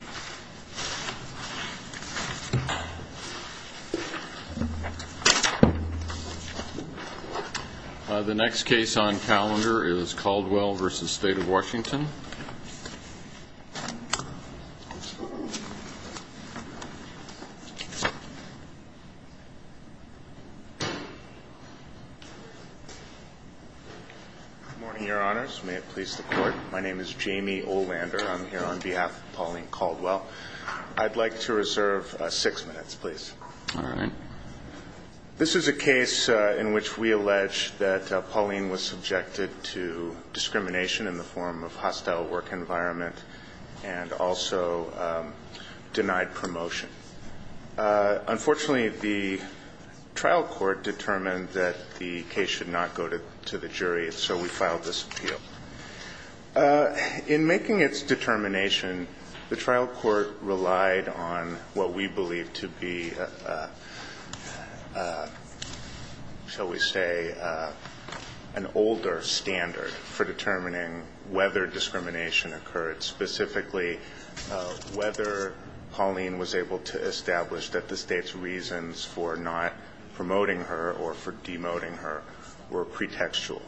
Good morning, Your Honors. May it please the Court, my name is Jamie Olander. I'm here on behalf of Pauline Caldwell. I'd like to reserve six minutes please. This is a case in which we allege that Pauline was subjected to discrimination in the form of hostile work environment and also denied promotion. Unfortunately the trial court determined that the case should not go to the The trial court relied on what we believe to be, shall we say, an older standard for determining whether discrimination occurred, specifically whether Pauline was able to establish that the State's reasons for not promoting her or for demoting her were pretextual.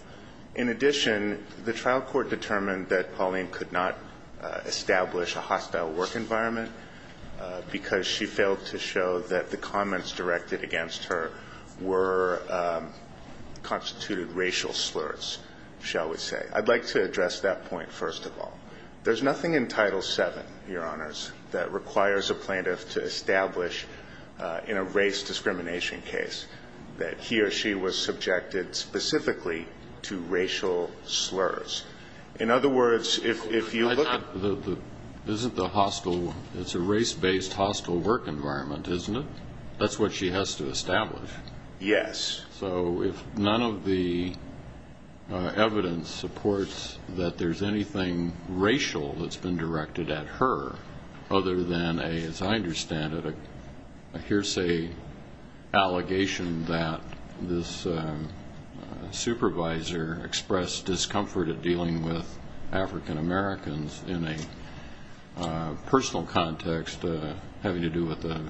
In addition, the trial court determined that Pauline could not establish a hostile work environment because she failed to show that the comments directed against her were constituted racial slurs, shall we say. I'd like to address that point first of all. There's nothing in Title VII, Your Honors, that requires a plaintiff to establish in a race discrimination case that he or she was It's a race-based hostile work environment, isn't it? That's what she has to establish. Yes. So if none of the evidence supports that there's anything racial that's been directed at her other than, as I understand it, a hearsay allegation that this supervisor expressed discomfort at African-Americans in a personal context having to do with a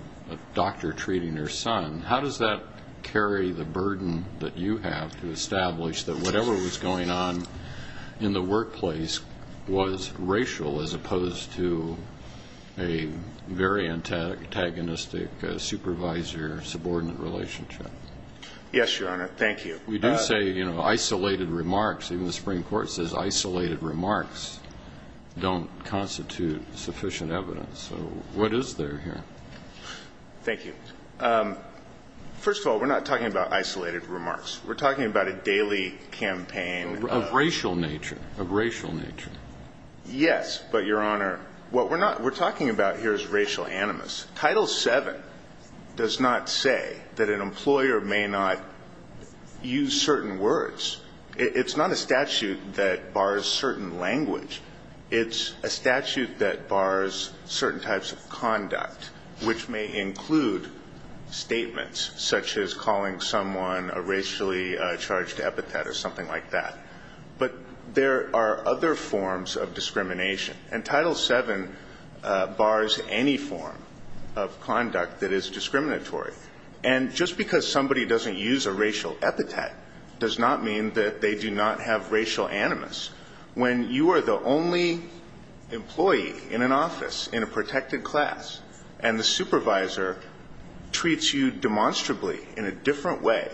doctor treating their son, how does that carry the burden that you have to establish that whatever was going on in the workplace was racial as opposed to a very antagonistic supervisor-subordinate relationship? Yes, Your Honor. Thank you. We do say, you know, isolated remarks. Even the Supreme Court says isolated remarks don't constitute sufficient evidence. So what is there here? Thank you. First of all, we're not talking about isolated remarks. We're talking about a daily campaign of racial nature, of racial nature. Yes, but Your Honor, what we're not, we're talking about here is an employer may not use certain words. It's not a statute that bars certain language. It's a statute that bars certain types of conduct, which may include statements such as calling someone a racially charged epithet or something like that. But there are other forms of discrimination. And just because somebody doesn't use a racial epithet does not mean that they do not have racial animus. When you are the only employee in an office, in a protected class, and the supervisor treats you demonstrably in a different way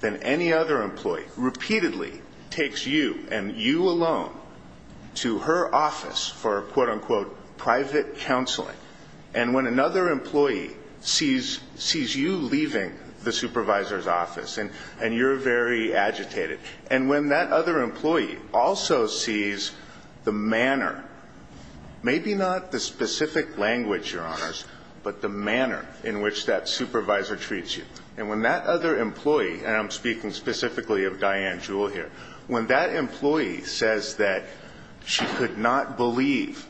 than any other employee, repeatedly takes you and you alone to her supervisor's office, and you're very agitated. And when that other employee also sees the manner, maybe not the specific language, Your Honors, but the manner in which that supervisor treats you, and when that other employee, and I'm speaking specifically of Diane Jewell here, when that employee says that she could not believe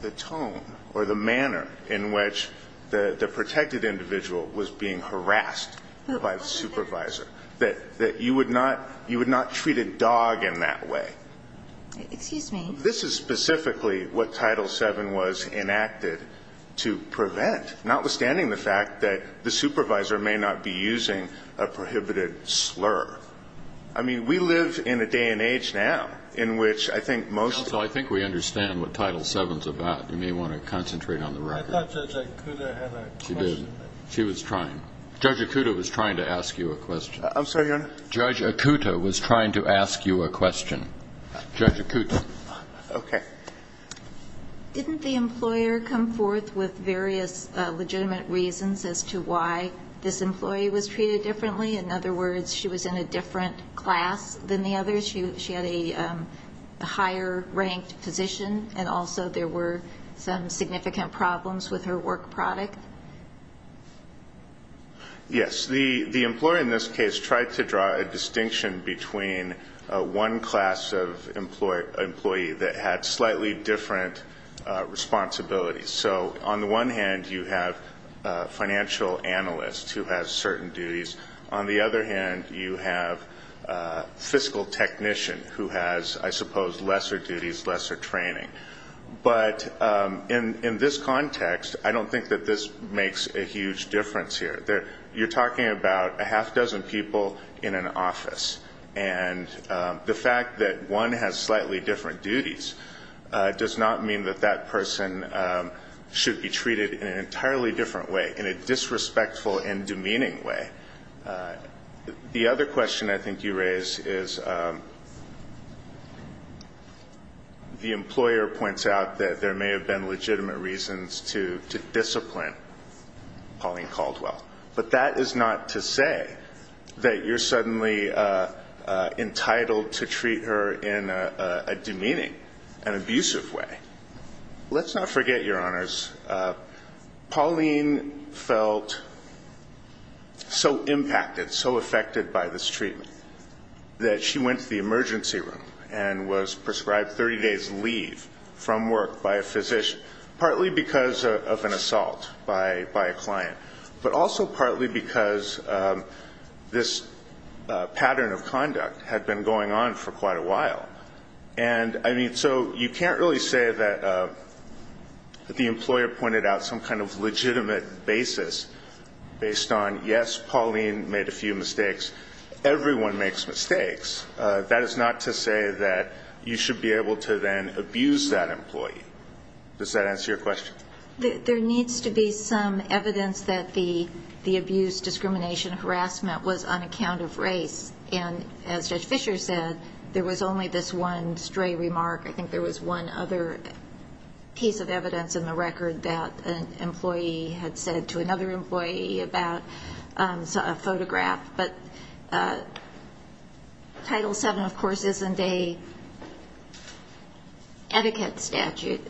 the tone or the manner in which the protected individual was being harassed by the supervisor, that you would not treat a dog in that way. Excuse me. This is specifically what Title VII was enacted to prevent, notwithstanding the fact that the supervisor may not be using a prohibited slur. I mean, we live in a day and age now in which I think most of the... Well, I think we understand what Title VII is about. You may want to concentrate on the record. I thought Judge Akuda had a question. She was trying. Judge Akuda was trying to ask you a question. I'm sorry, Your Honor? Judge Akuda was trying to ask you a question. Judge Akuda. Okay. Didn't the employer come forth with various legitimate reasons as to why this employee was treated differently? In other words, she was in a different class than the others? She had a higher-ranked position, and also there were some significant problems with her work product? Yes. The employer in this case tried to draw a distinction between one class of employee that had slightly different responsibilities. So on the one hand, you have a financial analyst who has certain duties. On the other hand, you have a fiscal technician who has, I suppose, lesser duties, lesser training. But in this context, I don't think that this makes a huge difference here. You're talking about a half-dozen people in an office, and the fact that one has slightly different duties does not mean that that person should be treated in an entirely different way, in a disrespectful and demeaning way. The other question I think you raise is the employer points out that there may have been legitimate reasons to discipline Pauline Caldwell. But that is not to say that you're suddenly entitled to treat her in a demeaning and abusive way. Let's not forget, Your Honors, Pauline felt so impacted, so affected by this treatment that she went to the emergency room and was prescribed 30 days' leave from work by a physician, partly because of an assault by a client, but also partly because this pattern of conduct had been going on for quite a while. And, I mean, so you can't really say that the employer pointed out some kind of legitimate basis based on, yes, Pauline made a few mistakes, everyone makes mistakes. That is not to say that you should be able to then abuse that employee. Does that answer your question? There needs to be some evidence that the abuse, discrimination, harassment was on account of race. And as Judge Fischer said, there was only this one stray remark. I think there was one other piece of evidence in the record that an employee had said to another employee about a photograph. But Title VII, of course, isn't an etiquette statute.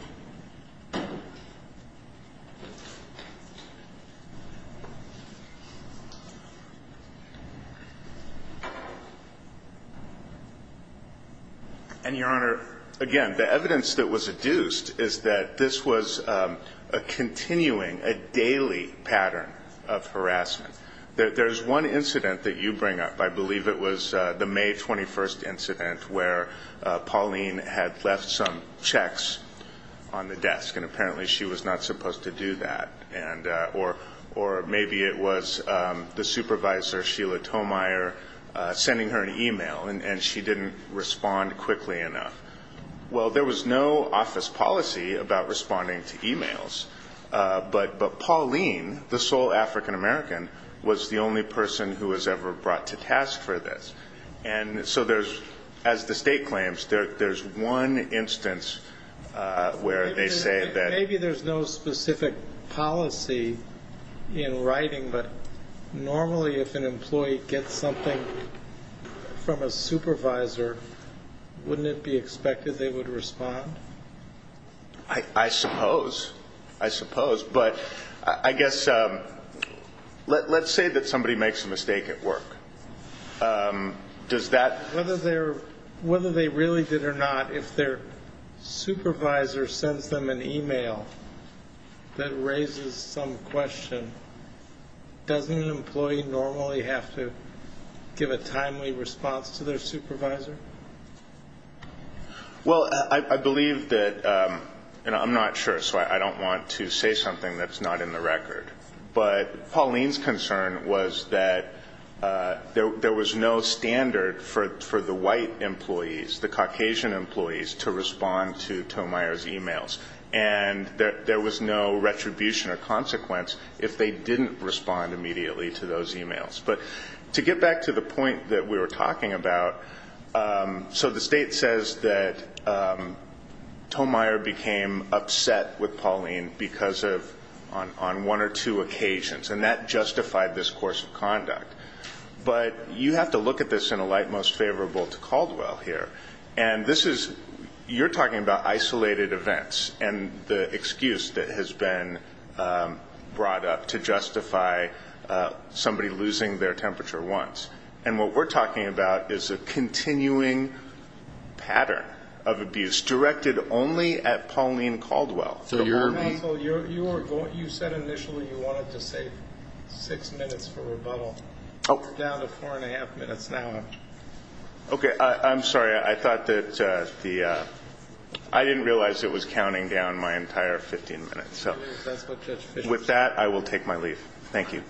And, Your Honor, again, the evidence that was adduced is that this was a continuing, a daily pattern of harassment. There's one incident that you bring up. I believe it was the May 21st on the desk, and apparently she was not supposed to do that. Or maybe it was the supervisor, Sheila Tomeyer, sending her an email, and she didn't respond quickly enough. Well, there was no office policy about responding to emails. But Pauline, the sole African American, was the only person who was ever brought to task for this. And so there's, as the State claims, there's one instance where they say that... Maybe there's no specific policy in writing, but normally, if an employee gets something from a supervisor, wouldn't it be expected they would respond? I suppose. I suppose. But I guess, let's say that somebody makes a mistake at work. Does that... Whether they really did or not, if their supervisor sends them an email that raises some question, doesn't an employee normally have to give a timely response to their supervisor? Well, I believe that, and I'm not sure, so I don't want to say something that's not in the record. But Pauline's concern was that there was no standard for the white employees, the Caucasian employees, to respond to Tomeyer's emails. And there was no retribution or consequence if they didn't respond immediately to those emails. But to get back to the point that we were talking about, so the State says that Tomeyer became upset with Pauline because of... On one or two occasions. And that justified this course of conduct. But you have to look at this in a light most favorable to Caldwell here. And this is... You're talking about isolated events and the excuse that has been brought up to justify somebody losing their temperature once. And what we're talking about is a continuing pattern of abuse directed only at Pauline Caldwell. So you're... Counsel, you said initially you wanted to save six minutes for rebuttal. Oh. We're down to four and a half minutes now. Okay. I'm sorry. I thought that the... I didn't realize it was counting down my entire 15 minutes. So with that, I will take my leave. Thank you.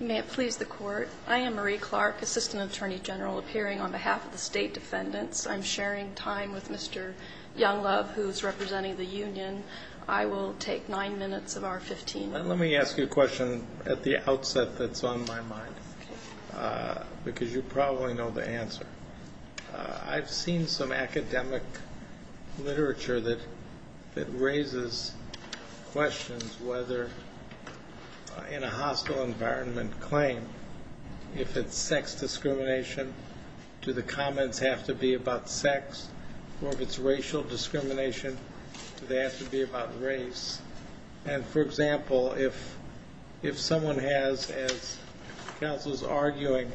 You may please the Court. I am Marie Clark, Assistant Attorney General, appearing on behalf of the State Defendants. I'm sharing time with Mr. Younglove, who's representing the union. I will take nine minutes of our 15 minutes. Let me ask you a question at the outset that's on my mind. Okay. Because you probably know the answer. I've seen some academic literature that raises questions whether in a hostile environment claim, if it's sex discrimination, do the comments have to be about sex? Or if it's racial discrimination, do they have to be about race? And for example, if someone has, as counsel's arguing,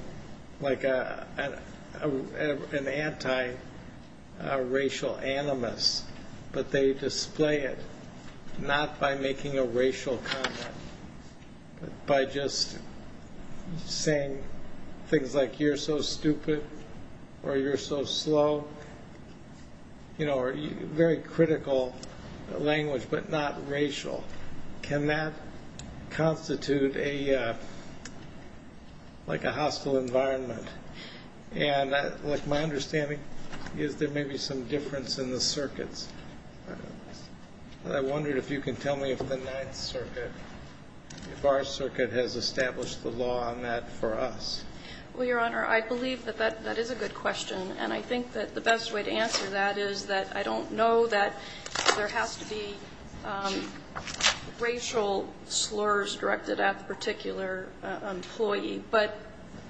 like an anti-racial animus, but they display it not by making a racial comment, but by just saying things like, you're so stupid or you're so slow, you know, or very critical language, but not racial, can that constitute a, like a hostile environment? And like my understanding is there may be some difference in the circuits. I wondered if you can tell me if the Ninth Circuit, if our circuit has established the law on that for us. Well, Your Honor, I believe that that is a good question. And I think that the best way to answer that is that I don't know that there has to be racial slurs directed at the particular employee, but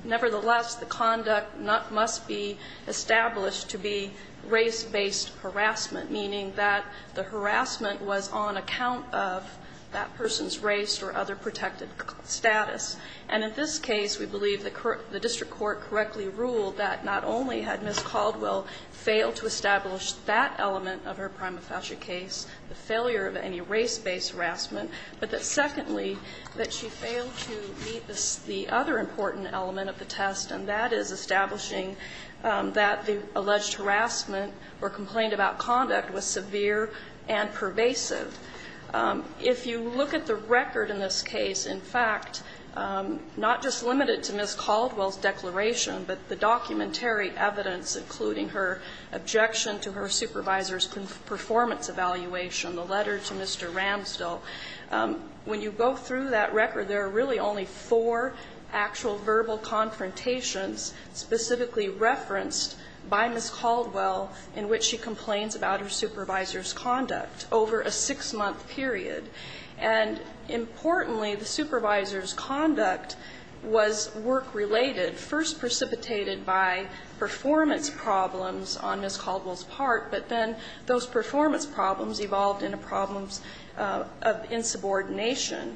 nevertheless, the conduct must be established to be race-based harassment, meaning that the harassment was on account of that person's race or other protected status. And in this case, we believe the district court correctly ruled that not only had Ms. Caldwell failed to establish that element of her prima facie case, the failure of any race-based harassment, but that, secondly, that she failed to meet the other important element of the test, and that is establishing that the alleged harassment or complaint about conduct was severe and pervasive. If you look at the record in this case, in fact, not just limited to Ms. Caldwell's declaration, but the documentary evidence, including her objection to her supervisor's performance evaluation, the letter to Mr. Ramsdell, when you go through that record, there are really only four actual verbal confrontations specifically referenced by Ms. Caldwell in which she complains about her supervisor's conduct over a six-month period. And importantly, the supervisor's conduct was work-related, first precipitated by her failure to meet the performance problems on Ms. Caldwell's part, but then those performance problems evolved into problems of insubordination.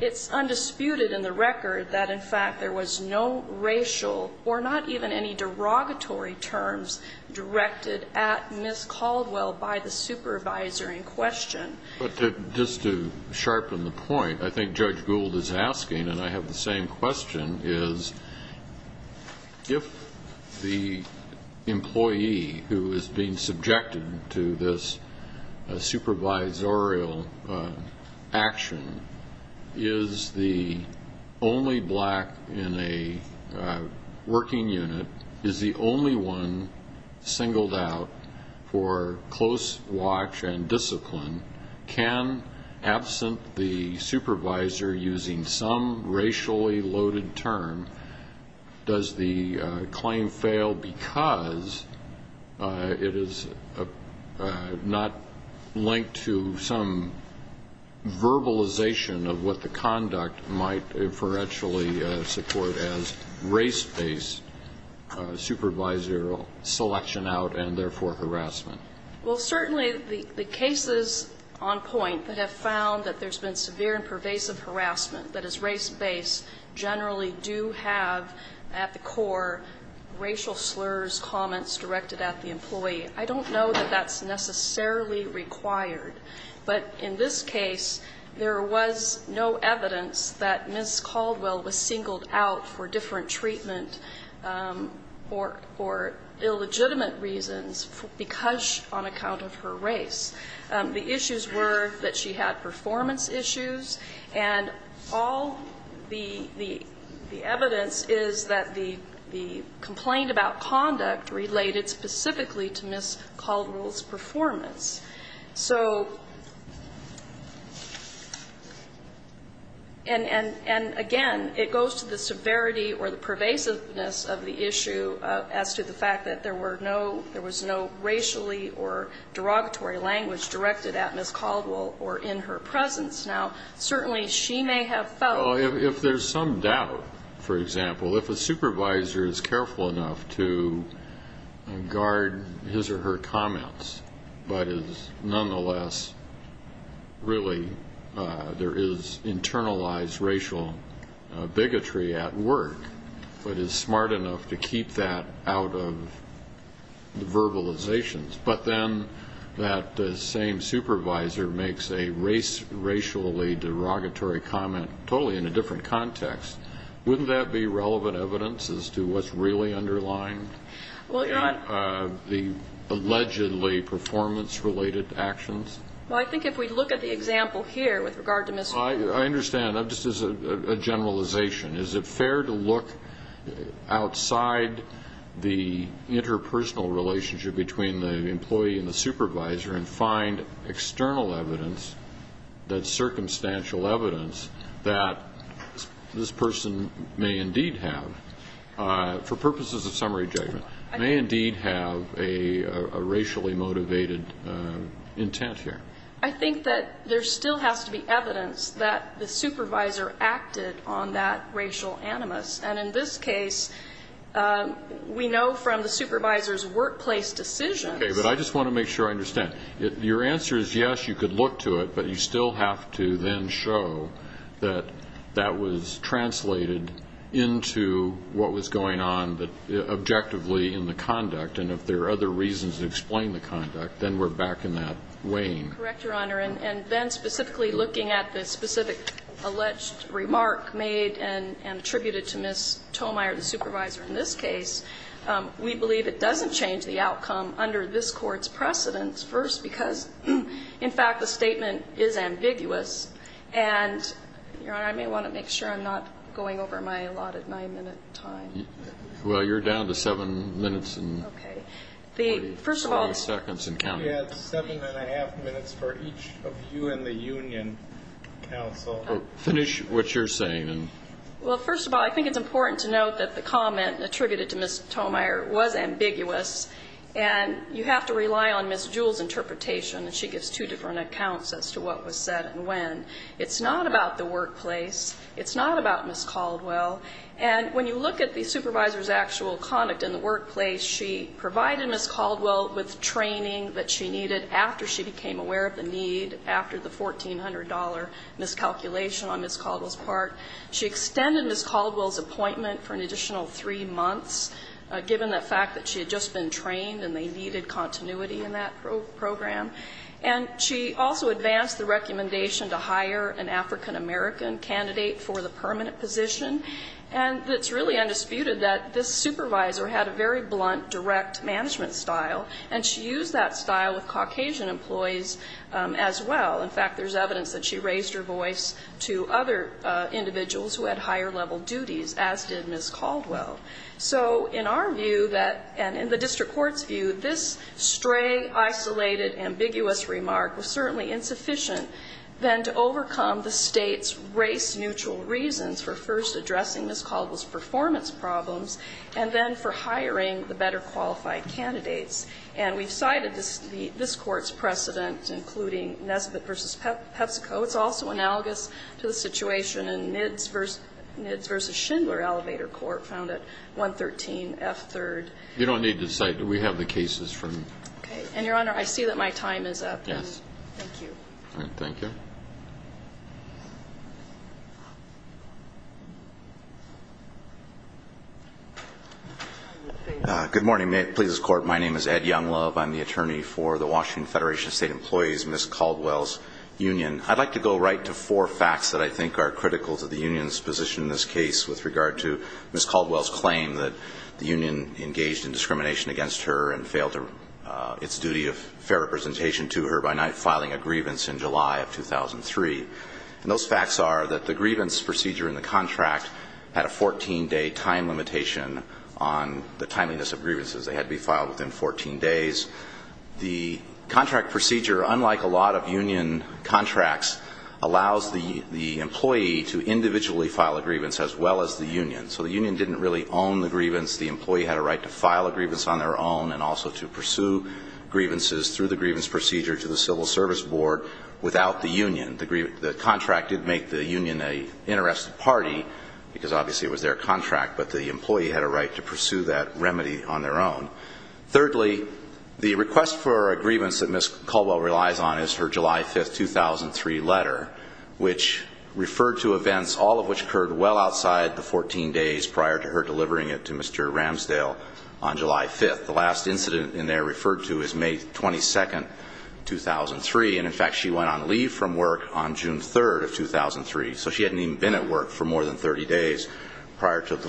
It's undisputed in the record that, in fact, there was no racial or not even any derogatory terms directed at Ms. Caldwell by the supervisor in question. But to just to sharpen the point, I think Judge Gould is asking, and I have the same question, is if the employee who is being subjected to this supervisorial action is the only black in a working unit, is the only one singled out for close watch and loaded term, does the claim fail because it is not linked to some verbalization of what the conduct might inferentially support as race-based supervisorial selection out and, therefore, harassment? Well, certainly the cases on point that have found that there's been severe and pervasive harassment, that is race-based, generally do have at the core racial slurs, comments directed at the employee. I don't know that that's necessarily required. But in this case, there was no evidence that Ms. Caldwell was singled out for different treatment or illegitimate reasons because on account of her race. The issues were that she had performance issues. And all the evidence is that the complaint about conduct related specifically to Ms. Caldwell's performance. So, and, again, it goes to the severity or the pervasiveness of the issue as to the fact that there were no, there was no racially or derogatory language that was used to describe the language directed at Ms. Caldwell or in her presence. Now, certainly, she may have felt Well, if there's some doubt, for example, if a supervisor is careful enough to guard his or her comments, but is nonetheless really, there is internalized racial bigotry at work, but is smart enough to keep that out of verbalizations, but then that is the same supervisor makes a racially derogatory comment totally in a different context, wouldn't that be relevant evidence as to what's really underlying the allegedly performance related actions? Well, I think if we look at the example here with regard to Ms. Caldwell I understand. Just as a generalization, is it fair to look outside the interpersonal relationship between the employee and the supervisor and find external evidence, that circumstantial evidence, that this person may indeed have, for purposes of summary judgment, may indeed have a racially motivated intent here? I think that there still has to be evidence that the supervisor acted on that racial animus. And in this case, we know from the supervisor's workplace decisions Okay, but I just want to make sure I understand. Your answer is yes, you could look to it, but you still have to then show that that was translated into what was going on objectively in the conduct. And if there are other reasons to explain the conduct, then we're back in that wane. Correct, Your Honor. And then specifically looking at the specific alleged remark made and attributed to Ms. Tomeyer, the supervisor in this case, we believe it doesn't change the outcome under this court's precedence, first because, in fact, the statement is ambiguous. And, Your Honor, I may want to make sure I'm not going over my allotted nine-minute time. Well, you're down to seven minutes and 40 seconds and counting. We had seven and a half minutes for each of you in the union, counsel. Finish what you're saying. Well, first of all, I think it's important to note that the comment attributed to Ms. Tomeyer was ambiguous. And you have to rely on Ms. Jewell's interpretation, and she gives two different accounts as to what was said and when. It's not about the workplace. It's not about Ms. Caldwell. And when you look at the supervisor's actual conduct in the workplace, she provided Ms. Caldwell with training that she needed continuity in that program. And she also advanced the recommendation to hire an African-American candidate for the permanent position. And it's really undisputed that this supervisor had a very blunt, direct management style, and she used that style with Caucasian employees as well. In fact, there's evidence that individuals who had higher-level duties, as did Ms. Caldwell. So in our view that and in the district court's view, this stray, isolated, ambiguous remark was certainly insufficient than to overcome the State's race-neutral reasons for first addressing Ms. Caldwell's performance problems, and then for hiring the better-qualified candidates. And we've cited this Court's precedent, including Nesbitt v. PepsiCo. It's also analogous to the situation in Nidds v. Schindler Elevator Court, found at 113 F. 3rd. You don't need to cite it. We have the cases from them. Okay. And, Your Honor, I see that my time is up. Yes. Thank you. All right. Thank you. Good morning, Pleasers Court. My name is Ed Younglove. I'm the attorney for the I'd like to go right to four facts that I think are critical to the union's position in this case with regard to Ms. Caldwell's claim that the union engaged in discrimination against her and failed its duty of fair representation to her by not filing a grievance in July of 2003. And those facts are that the grievance procedure in the contract had a 14-day time limitation on the timeliness of grievances. They had to be filed within 14 days. The contract procedure, unlike a lot of union contracts, allows the employee to individually file a grievance as well as the union. So the union didn't really own the grievance. The employee had a right to file a grievance on their own and also to pursue grievances through the grievance procedure to the Civil Service Board without the union. The contract didn't make the union an interested party because obviously it was their contract, but the employee had a right to pursue that remedy on their own. Thirdly, the request for a grievance that Ms. Caldwell relies on is her July 5, 2003 letter, which referred to events, all of which occurred well outside the 14 days prior to her delivering it to Mr. Ramsdale on July 5. The last incident in there referred to is May 22, 2003. And in fact, she went on leave from work on June 3 of 2003. So she hadn't even been at work for more than 30 days prior to this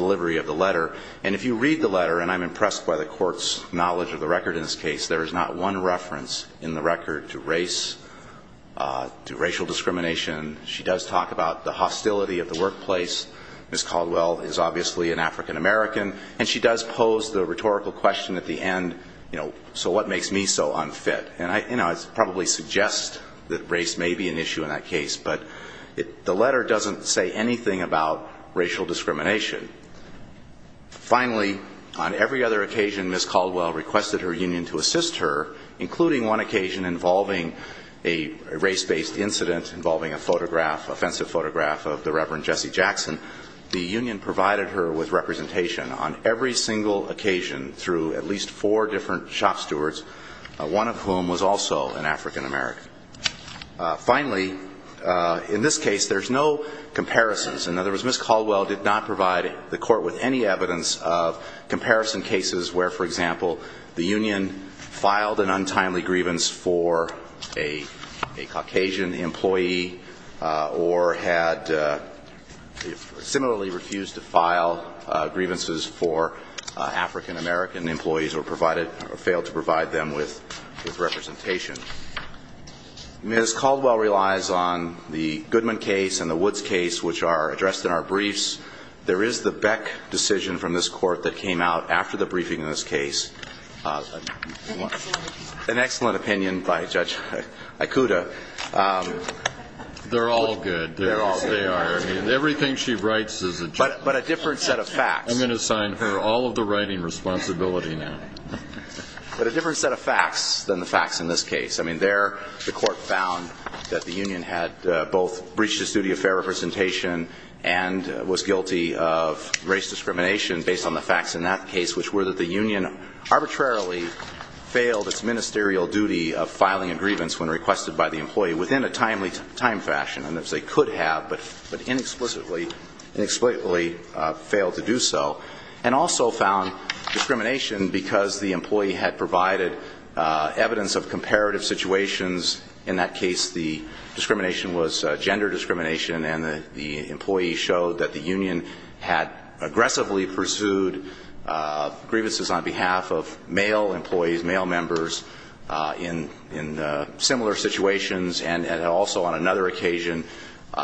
case. There is not one reference in the record to race, to racial discrimination. She does talk about the hostility of the workplace. Ms. Caldwell is obviously an African-American. And she does pose the rhetorical question at the end, you know, so what makes me so unfit? And I probably suggest that race may be an issue in that case, but the letter doesn't say anything about racial discrimination. Finally, on every other occasion Ms. Caldwell requested her union to assist her, including one occasion involving a race-based incident involving a photograph, offensive photograph of the Reverend Jesse Jackson. The union provided her with representation on every single occasion through at least four different shop stewards, one of whom was also an African-American. Finally, in this case, there's no comparisons. In other words, Ms. Caldwell did not provide the court with any evidence of comparison cases where, for example, the union filed an untimely grievance for a Caucasian employee or had similarly refused to file grievances for African-American employees or provided or failed to provide them with representation. Ms. Caldwell relies on the Goodman case and the Woods case, which are addressed in our briefs. There is the Beck decision from this court that came out after the briefing in this case. An excellent opinion by Judge Ikuta. They're all good. They are. I mean, everything she writes is a joke. But a different set of facts. I'm going to assign her all of the writing responsibility now. But a different set of facts than the facts in this case. I mean, there the court found that the union had both breached its duty of fair representation and was guilty of race discrimination based on the facts in that case, which were that the union arbitrarily failed its ministerial duty of filing a grievance when requested by the employee within a timely time fashion. And they could have, but inexplicably failed to do so. And also found discrimination because the employee had provided evidence of discrimination. And in that case, the discrimination was gender discrimination. And the employee showed that the union had aggressively pursued grievances on behalf of male employees, male members, in similar situations. And also on another occasion,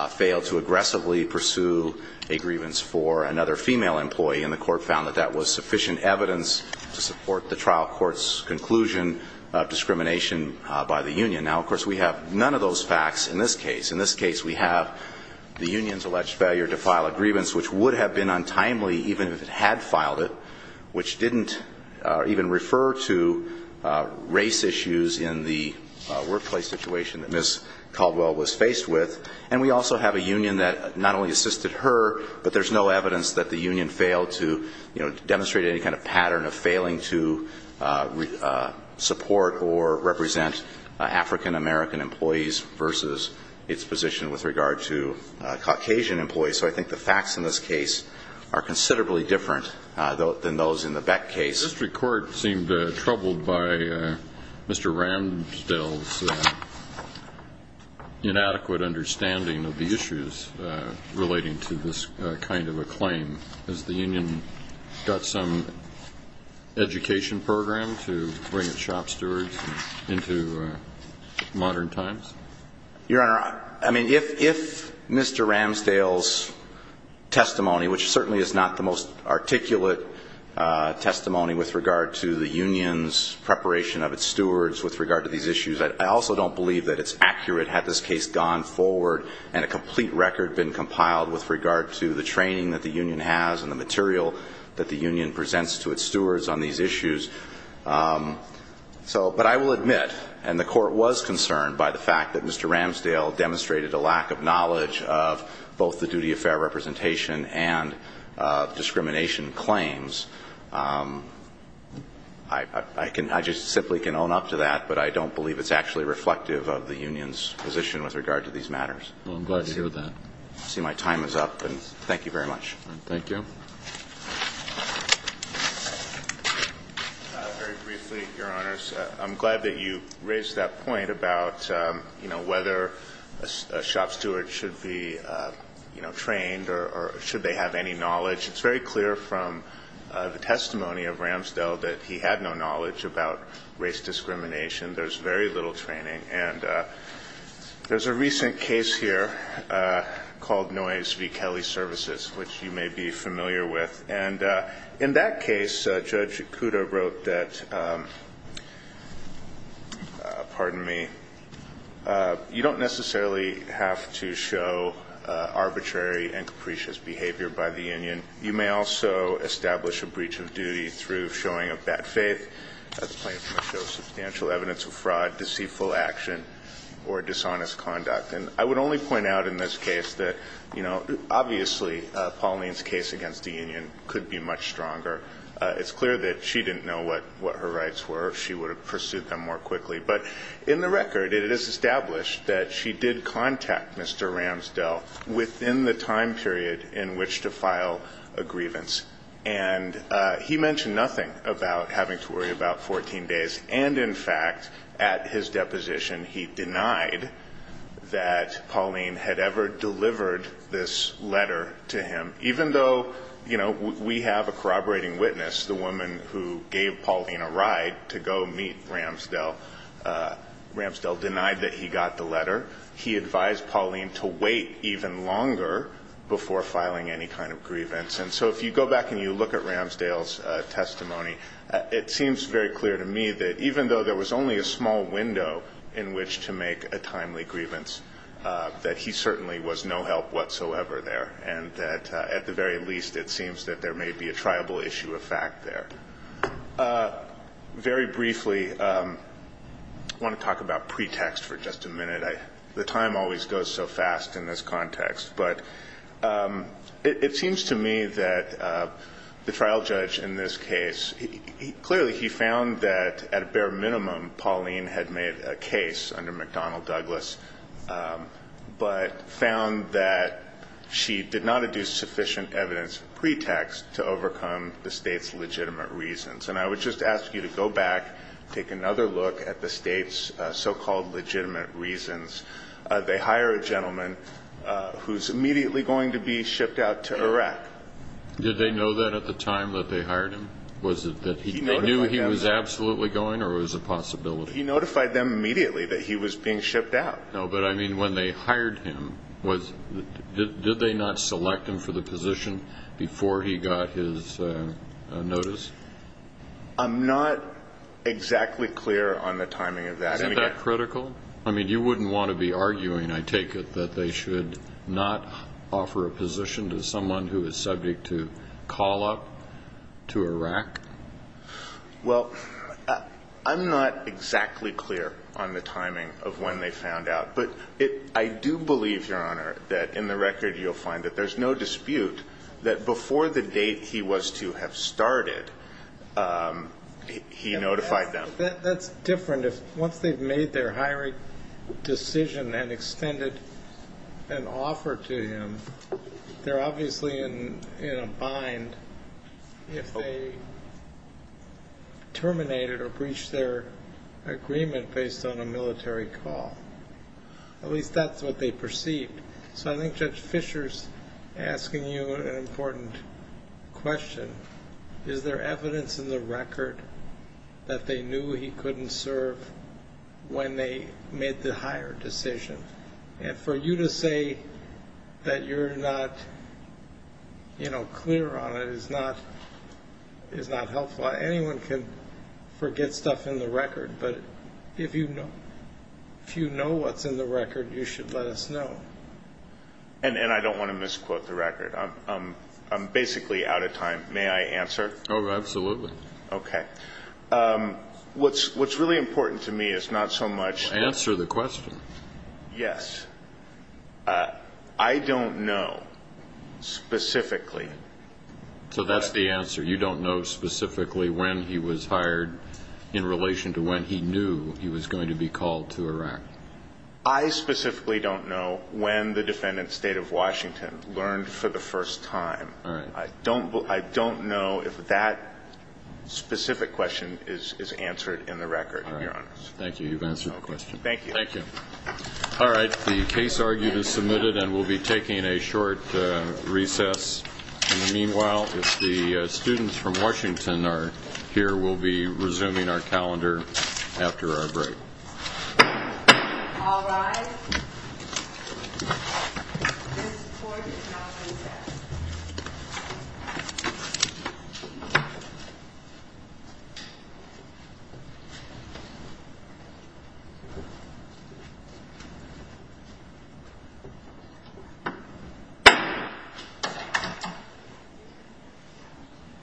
failed to aggressively pursue a grievance for another female employee. And the court found that that was sufficient evidence to have none of those facts in this case. In this case, we have the union's alleged failure to file a grievance, which would have been untimely even if it had filed it, which didn't even refer to race issues in the workplace situation that Ms. Caldwell was faced with. And we also have a union that not only assisted her, but there's no evidence that the union failed to demonstrate any kind of pattern of failing to support or represent African-American employees versus its position with regard to Caucasian employees. So I think the facts in this case are considerably different than those in the Beck case. This record seemed troubled by Mr. Ramsdale's inadequate understanding of the issues relating to this kind of a claim. Has the union got some education program to bring its shop stewards into modern times? Your Honor, I mean, if Mr. Ramsdale's testimony, which certainly is not the most articulate testimony with regard to the union's preparation of its stewards with regard to these issues, I also don't believe that it's accurate had this case gone forward and a complete record been compiled with regard to the training that the union has and the material that the union presents to its stewards on these issues. So – but I will admit, and the Court was concerned by the fact that Mr. Ramsdale demonstrated a lack of knowledge of both the duty of fair representation and discrimination claims. I can – I just simply can own up to that, but I don't believe it's actually reflective of the union's position with regard to these matters. Well, I'm glad to hear that. I see my time is up, and thank you very much. Thank you. Very briefly, Your Honors, I'm glad that you raised that point about, you know, whether a shop steward should be, you know, trained or should they have any knowledge. It's very clear from the testimony of Ramsdale that he had no knowledge about race discrimination. There's very little training. And there's a recent case here called Noyes v. Kelly Services, which you may be familiar with. And in that case, Judge Kudo wrote that – pardon me – you don't necessarily have to show arbitrary and capricious behavior by the union. You may also establish a breach of duty through showing of bad faith. That's plain from the show. Substantial evidence of fraud, deceitful action, or dishonest conduct. And I would only point out in this case that, you know, obviously Pauline's case against the union could be much stronger. It's clear that she didn't know what her rights were. She would have pursued them more quickly. But in the record, it is established that she did contact Mr. Ramsdale within the time period in which to file a grievance. And he mentioned nothing about having to worry about 14 days. And, in fact, at his deposition, he denied that Pauline had ever delivered this letter to him, even though, you know, we have a corroborating witness, the woman who gave Pauline a ride to go meet Ramsdale. Ramsdale denied that he got the letter. He advised Pauline to wait even longer before filing any kind of grievance. And so if you go back and you look at Ramsdale's testimony, it seems very clear to me that, even though there was only a small window in which to make a timely grievance, that he certainly was no help whatsoever there. And that, at the very least, it seems that there may be a triable issue of fact there. Very briefly, I want to talk about pretext for just a minute. The time always goes so fast in this context. But it seems to me that the trial judge in this case, clearly he found that, at a bare minimum, Pauline had made a case under McDonnell Douglas, but found that she did not adduce sufficient evidence pretext to overcome the State's legitimate reasons. And I would just ask you to go back, take another look at the State's so-called legitimate reasons. They hire a gentleman who's immediately going to be shipped out to Iraq. Did they know that at the time that they hired him? Was it that they knew he was absolutely going, or was it a possibility? He notified them immediately that he was being shipped out. No, but I mean when they hired him, did they not select him for the position before he got his notice? I'm not exactly clear on the timing of that. Isn't that critical? I mean you wouldn't want to be arguing, I take it, that they should not offer a position to someone who is subject to call-up to Iraq? Well, I'm not exactly clear on the timing of when they found out. But I do believe, Your Honor, that in the record you'll find that there's no dispute that before the date he was to have started, he notified them. That's different. Once they've made their hiring decision and extended an offer to him, they're obviously in a bind if they terminated or breached their agreement based on a military call. At least that's what they perceived. So I think Judge Fischer's asking you an important question. Is there evidence in the record that they knew he couldn't serve when they made the hire decision? And for you to say that you're not clear on it is not helpful. Anyone can forget stuff in the record, but if you know what's in the record you should let us know. And I don't want to misquote the record. I'm basically out of time. May I answer? Oh, absolutely. Okay. What's really important to me is not so much the... Answer the question. Yes. I don't know specifically... So that's the answer. You don't know specifically when he was hired in relation to when he knew he was going to be called to Iraq. I specifically don't know when the defendant, State of Washington, learned for the first time. I don't know if that specific question is answered in the record, Your Honor. All right. Thank you. You've answered the question. Thank you. Thank you. All right. The case argued is submitted and we'll be taking a short recess. Meanwhile, if the students from Washington are here, we'll be resuming our calendar after our break. All rise. This court is now recessed.